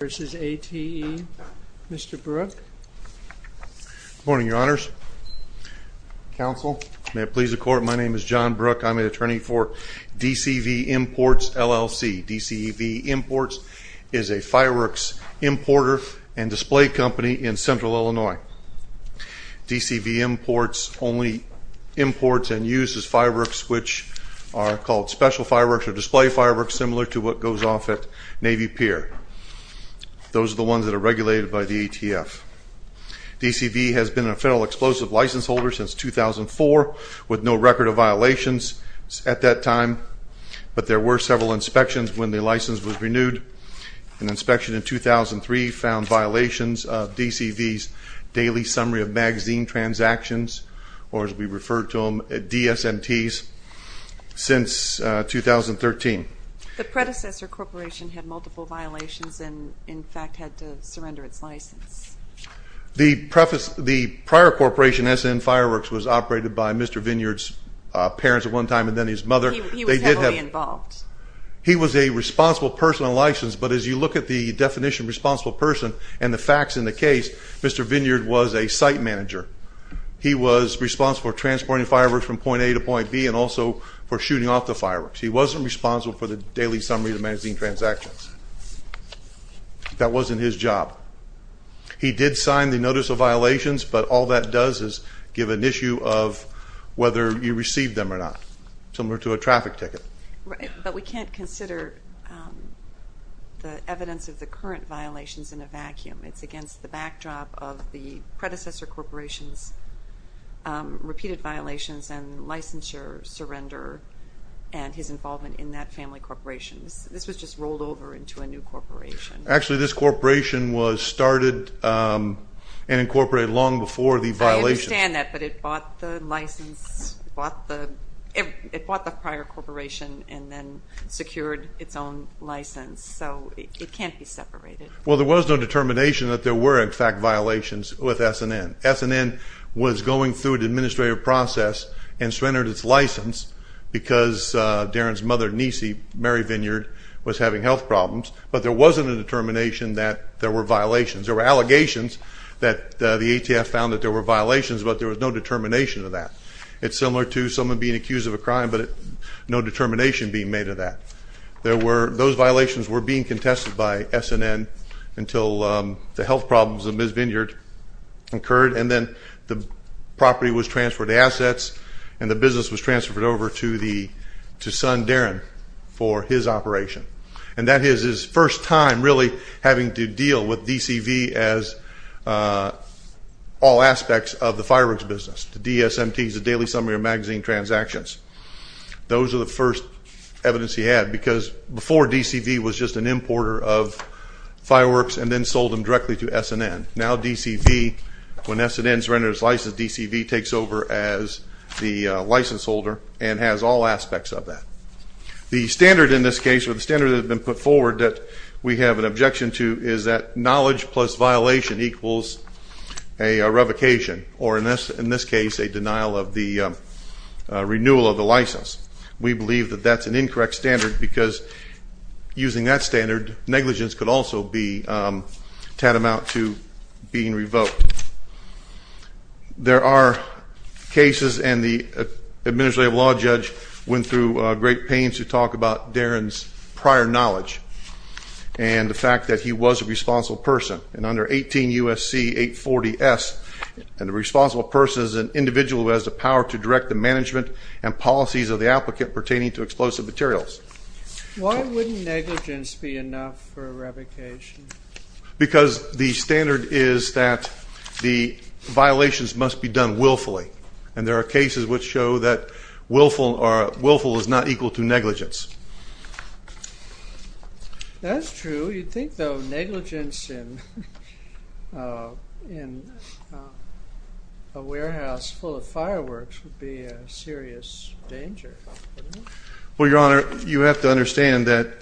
v. A.T.E. Mr. Brooke. Good morning, your honors, counsel, may it please the court, my name is John Brooke, I'm an attorney for D.C. v. Imports, L.L.C. D.C. v. Imports is a fireworks importer and display company in central Illinois. D.C. v. Imports only imports and uses fireworks which are called special fireworks or display fireworks similar to what goes off at Navy Pier. Those are the ones that are regulated by the ATF. D.C. v. has been a federal explosive license holder since 2004 with no record of violations at that time, but there were several inspections when the license was renewed. An inspection in 2003 found violations of D.C. v.'s daily summary of magazine transactions, or as we refer to them, DSMTs, since 2013. The predecessor corporation had multiple violations and in fact had to surrender its license. The prior corporation, S.N. Fireworks, was operated by Mr. Vineyard's parents at one time and then his mother. He was heavily involved. He was a responsible person on license, but as you look at the definition of responsible person and the facts in the case, Mr. Vineyard was a site manager. He was responsible for transporting fireworks from point A to point B and also for shooting off the fireworks. He wasn't responsible for the daily summary of the magazine transactions. That wasn't his job. He did sign the notice of violations, but all that does is give an issue of whether you received them or not, similar to a traffic ticket. But we can't consider the evidence of the current violations in a vacuum. It's against the backdrop of the predecessor corporation's repeated violations and licensure surrender and his involvement in that family corporation. This was just rolled over into a new corporation. Actually this corporation was started and incorporated long before the violations. I understand that, but it bought the license, it bought the prior corporation and then secured its own license, so it can't be separated. Well, there was no determination that there were in fact violations with S&N. S&N was going through an administrative process and surrendered its license because Darren's mother, Niecy, Mary Vineyard, was having health problems, but there wasn't a determination that there were violations. There were allegations that the ATF found that there were violations, but there was no determination of that. It's similar to someone being accused of a crime, but no determination being made of that. Those violations were being contested by S&N. until the health problems of Ms. Vineyard occurred, and then the property was transferred to assets and the business was transferred over to son Darren for his operation. And that is his first time really having to deal with DCV as all aspects of the fireworks business, the DSMTs, the Daily Summary of Magazine transactions. Those are the first evidence he had because before DCV was just an importer of fireworks and then sold them directly to S&N. Now DCV, when S&N surrenders its license, DCV takes over as the license holder and has all aspects of that. The standard in this case, or the standard that has been put forward that we have an objection to is that knowledge plus violation equals a revocation, or in this case a denial of the renewal of the license. We believe that that's an incorrect standard because using that standard, negligence could also be tantamount to being revoked. There are cases, and the Administrative Law Judge went through great pains to talk about Darren's prior knowledge and the fact that he was a responsible person. And under 18 U.S.C. 840 S, a responsible person is an individual who has the power to direct the management and Why wouldn't negligence be enough for revocation? Because the standard is that the violations must be done willfully. And there are cases which show that willful is not equal to negligence. That's true. You'd think though negligence in a warehouse full of fireworks would be a serious danger. Well, Your Honor, you have to understand that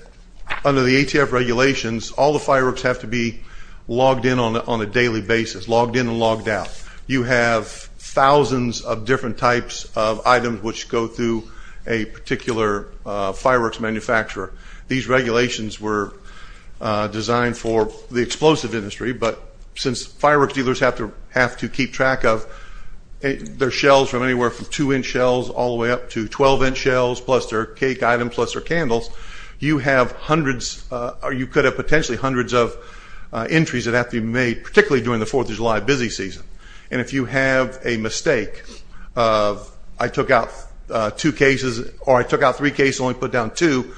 under the ATF regulations all the fireworks have to be logged in on a daily basis, logged in and logged out. You have thousands of different types of items which go through a particular fireworks manufacturer. These regulations were designed for the explosive industry, but since fireworks dealers have to keep track of their shells from anywhere from 2-inch shells all the way up to 12-inch shells plus their cake items plus their candles, you have hundreds or you could have potentially hundreds of entries that have to be made, particularly during the 4th of July busy season. And if you have a mistake of I took out two cases or I took out three cases and only put down two,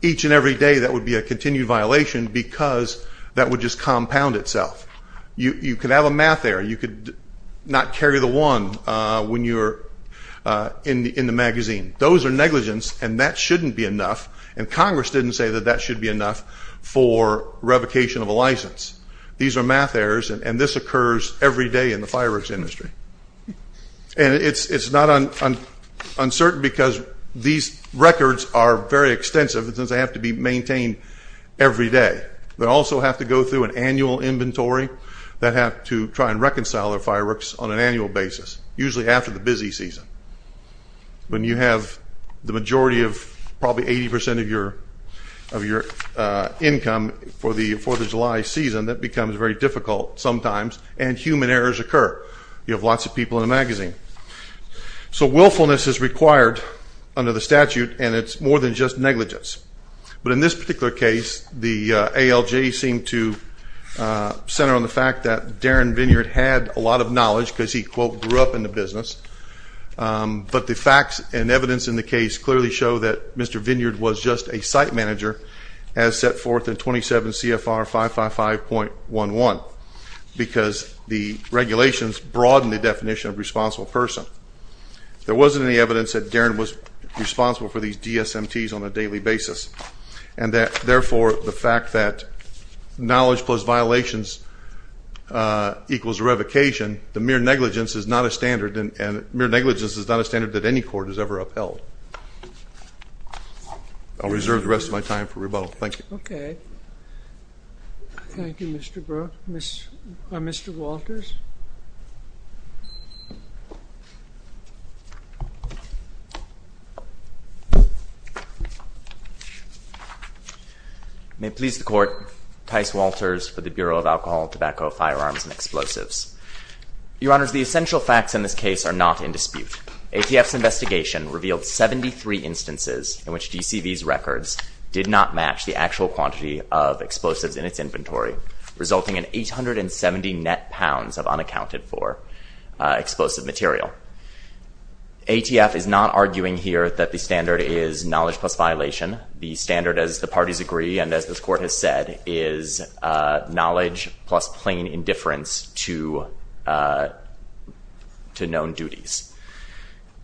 each and every day that would be a continued violation because that would just not carry the one when you're in the magazine. Those are negligence and that shouldn't be enough and Congress didn't say that that should be enough for revocation of a license. These are math errors and this occurs every day in the fireworks industry. And it's not uncertain because these records are very extensive and they have to be maintained every day. They have to try and reconcile their fireworks on an annual basis, usually after the busy season. When you have the majority of probably 80% of your income for the 4th of July season that becomes very difficult sometimes and human errors occur. You have lots of people in the magazine. So willfulness is required under the statute and it's more than just Darren Vineyard had a lot of knowledge because he quote grew up in the business. But the facts and evidence in the case clearly show that Mr. Vineyard was just a site manager as set forth in 27 CFR 555.11 because the regulations broaden the definition of responsible person. There wasn't any evidence that Darren was responsible for these DSMTs on a daily basis. And therefore the fact that knowledge plus violations equals revocation, the mere negligence is not a standard and mere negligence is not a standard that any court has ever upheld. I'll reserve the rest of my time for rebuttal. Thank you. Okay. Thank you, Mr. Brook. Mr. Walters. May it please the court, Tice Walters for the Bureau of Alcohol and Tobacco Firearms and Explosives. Your honors, the essential facts in this case are not in dispute. ATF's collected a considerable quantity of explosives in its inventory resulting in 870 net pounds of unaccounted for explosive material. ATF is not arguing here that the standard is knowledge plus violation. The standard as the parties agree and as this court has said is knowledge plus plain indifference to known duties.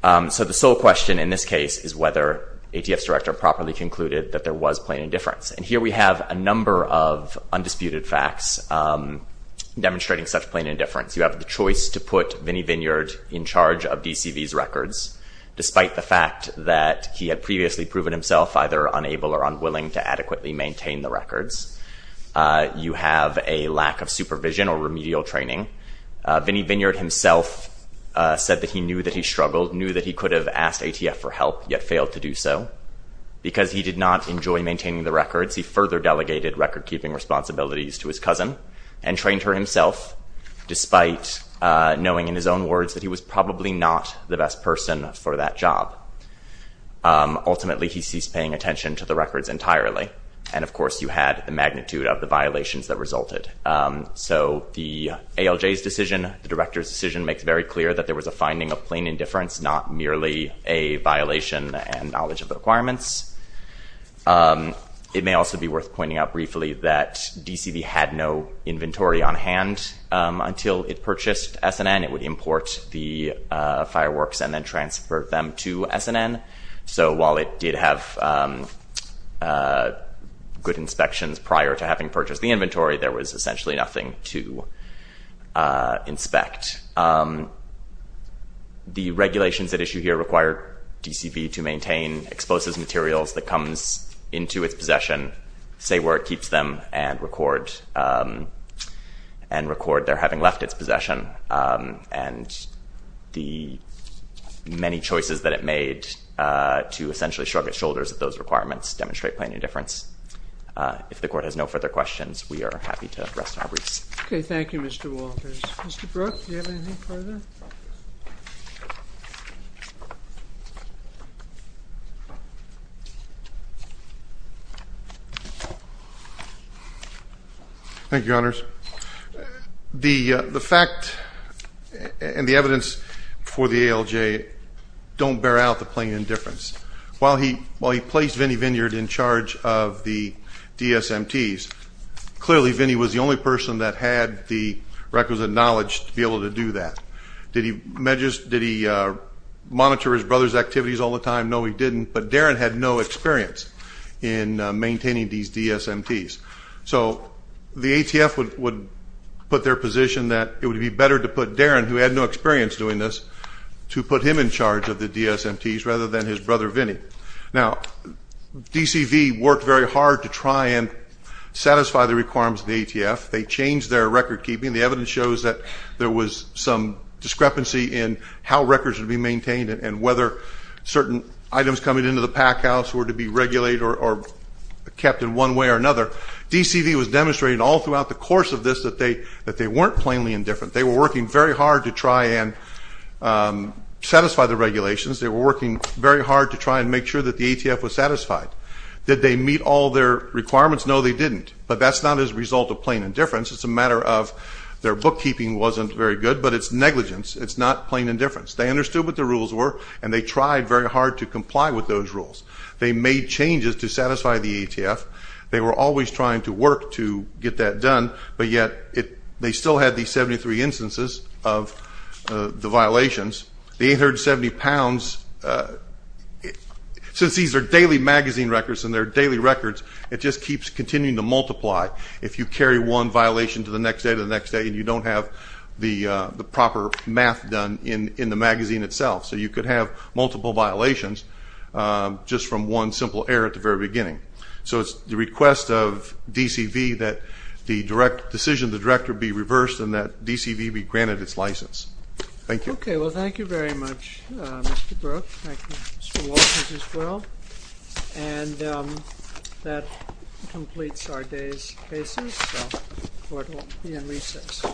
So the sole question in this case is whether ATF's director properly concluded that there was plain indifference. And here we have a number of undisputed facts demonstrating such plain indifference. You have the choice to put Vinnie Vineyard in charge of DCV's records despite the fact that he had previously proven himself either unable or unwilling to adequately maintain the records. You have a lack of supervision or remedial training. Vinnie Vineyard himself said that he knew that he struggled, knew that he could have asked ATF for help yet failed to do so because he did not enjoy maintaining the records. He further delegated recordkeeping responsibilities to his cousin and trained her himself despite knowing in his own words that he was probably not the best person for that job. Ultimately he ceased paying attention to the records entirely. And of course you had the magnitude of the violations that resulted. So the ALJ's decision, the director's decision makes very clear that there was a finding of plain indifference, not merely a violation and knowledge of the requirements. It may also be worth pointing out briefly that DCV had no inventory on hand until it purchased S&N. It would import the fireworks and then transfer them to S&N. So while it did have good inspections prior to having purchased the inventory, there was essentially nothing to inspect. The regulations at issue here require DCV to maintain exposes materials that comes into its possession, say where it keeps them and record they're having left its possession. And the many choices that it made to essentially shrug its shoulders at those requirements demonstrate plain indifference. If the court has no further questions, we are happy to rest our briefs. Okay, thank you, Mr. Walters. Mr. Brooke, do you have anything further? Thank you, Your Honors. The fact and the evidence for the ALJ don't bear out the plain indifference. While he placed Vinny Vineyard in charge of the DSMTs, clearly Vinny was the only person that had the requisite knowledge to be able to do that. Did he monitor his brother's activities all the time? No, he didn't. But Darren had no experience in maintaining these DSMTs. So the ATF would put their position that it would be better to put Darren, who had no experience doing this, to put him in charge of the DSMTs rather than his brother Vinny. Now, DCV worked very hard to try and satisfy the requirements of the ATF. They changed their recordkeeping. The evidence shows that there was some discrepancy in how records would be maintained and whether certain items coming into the packhouse were to be regulated or kept in one way or another. DCV was demonstrating all throughout the course of this that they weren't plainly indifferent. They were working very hard to try and satisfy the regulations. They were working very hard to try and make sure that the ATF was satisfied. Did they meet all their requirements? No, they didn't. But that's not as a result of plain indifference. It's a matter of their bookkeeping wasn't very good, but it's negligence. It's not plain indifference. They understood what the rules were and they tried very hard to comply with those rules. They made changes to satisfy the ATF. They were always trying to work to get that done, but yet they still had these 73 instances of the violations. The 870 pounds, since these are daily magazine records and they're daily records, it just keeps continuing to multiply if you carry one violation to the next day to the next day and you don't have the proper math done in the magazine itself. So you could have multiple violations just from one simple error at the very beginning. So it's the request of DCV that the decision of the director be reversed and that DCV be granted its license. Thank you. Okay. Well, thank you very much, Mr. Brooke. Thank you, Mr. Walters as well. And that completes our day's cases, so the court will be in recess. Thank you.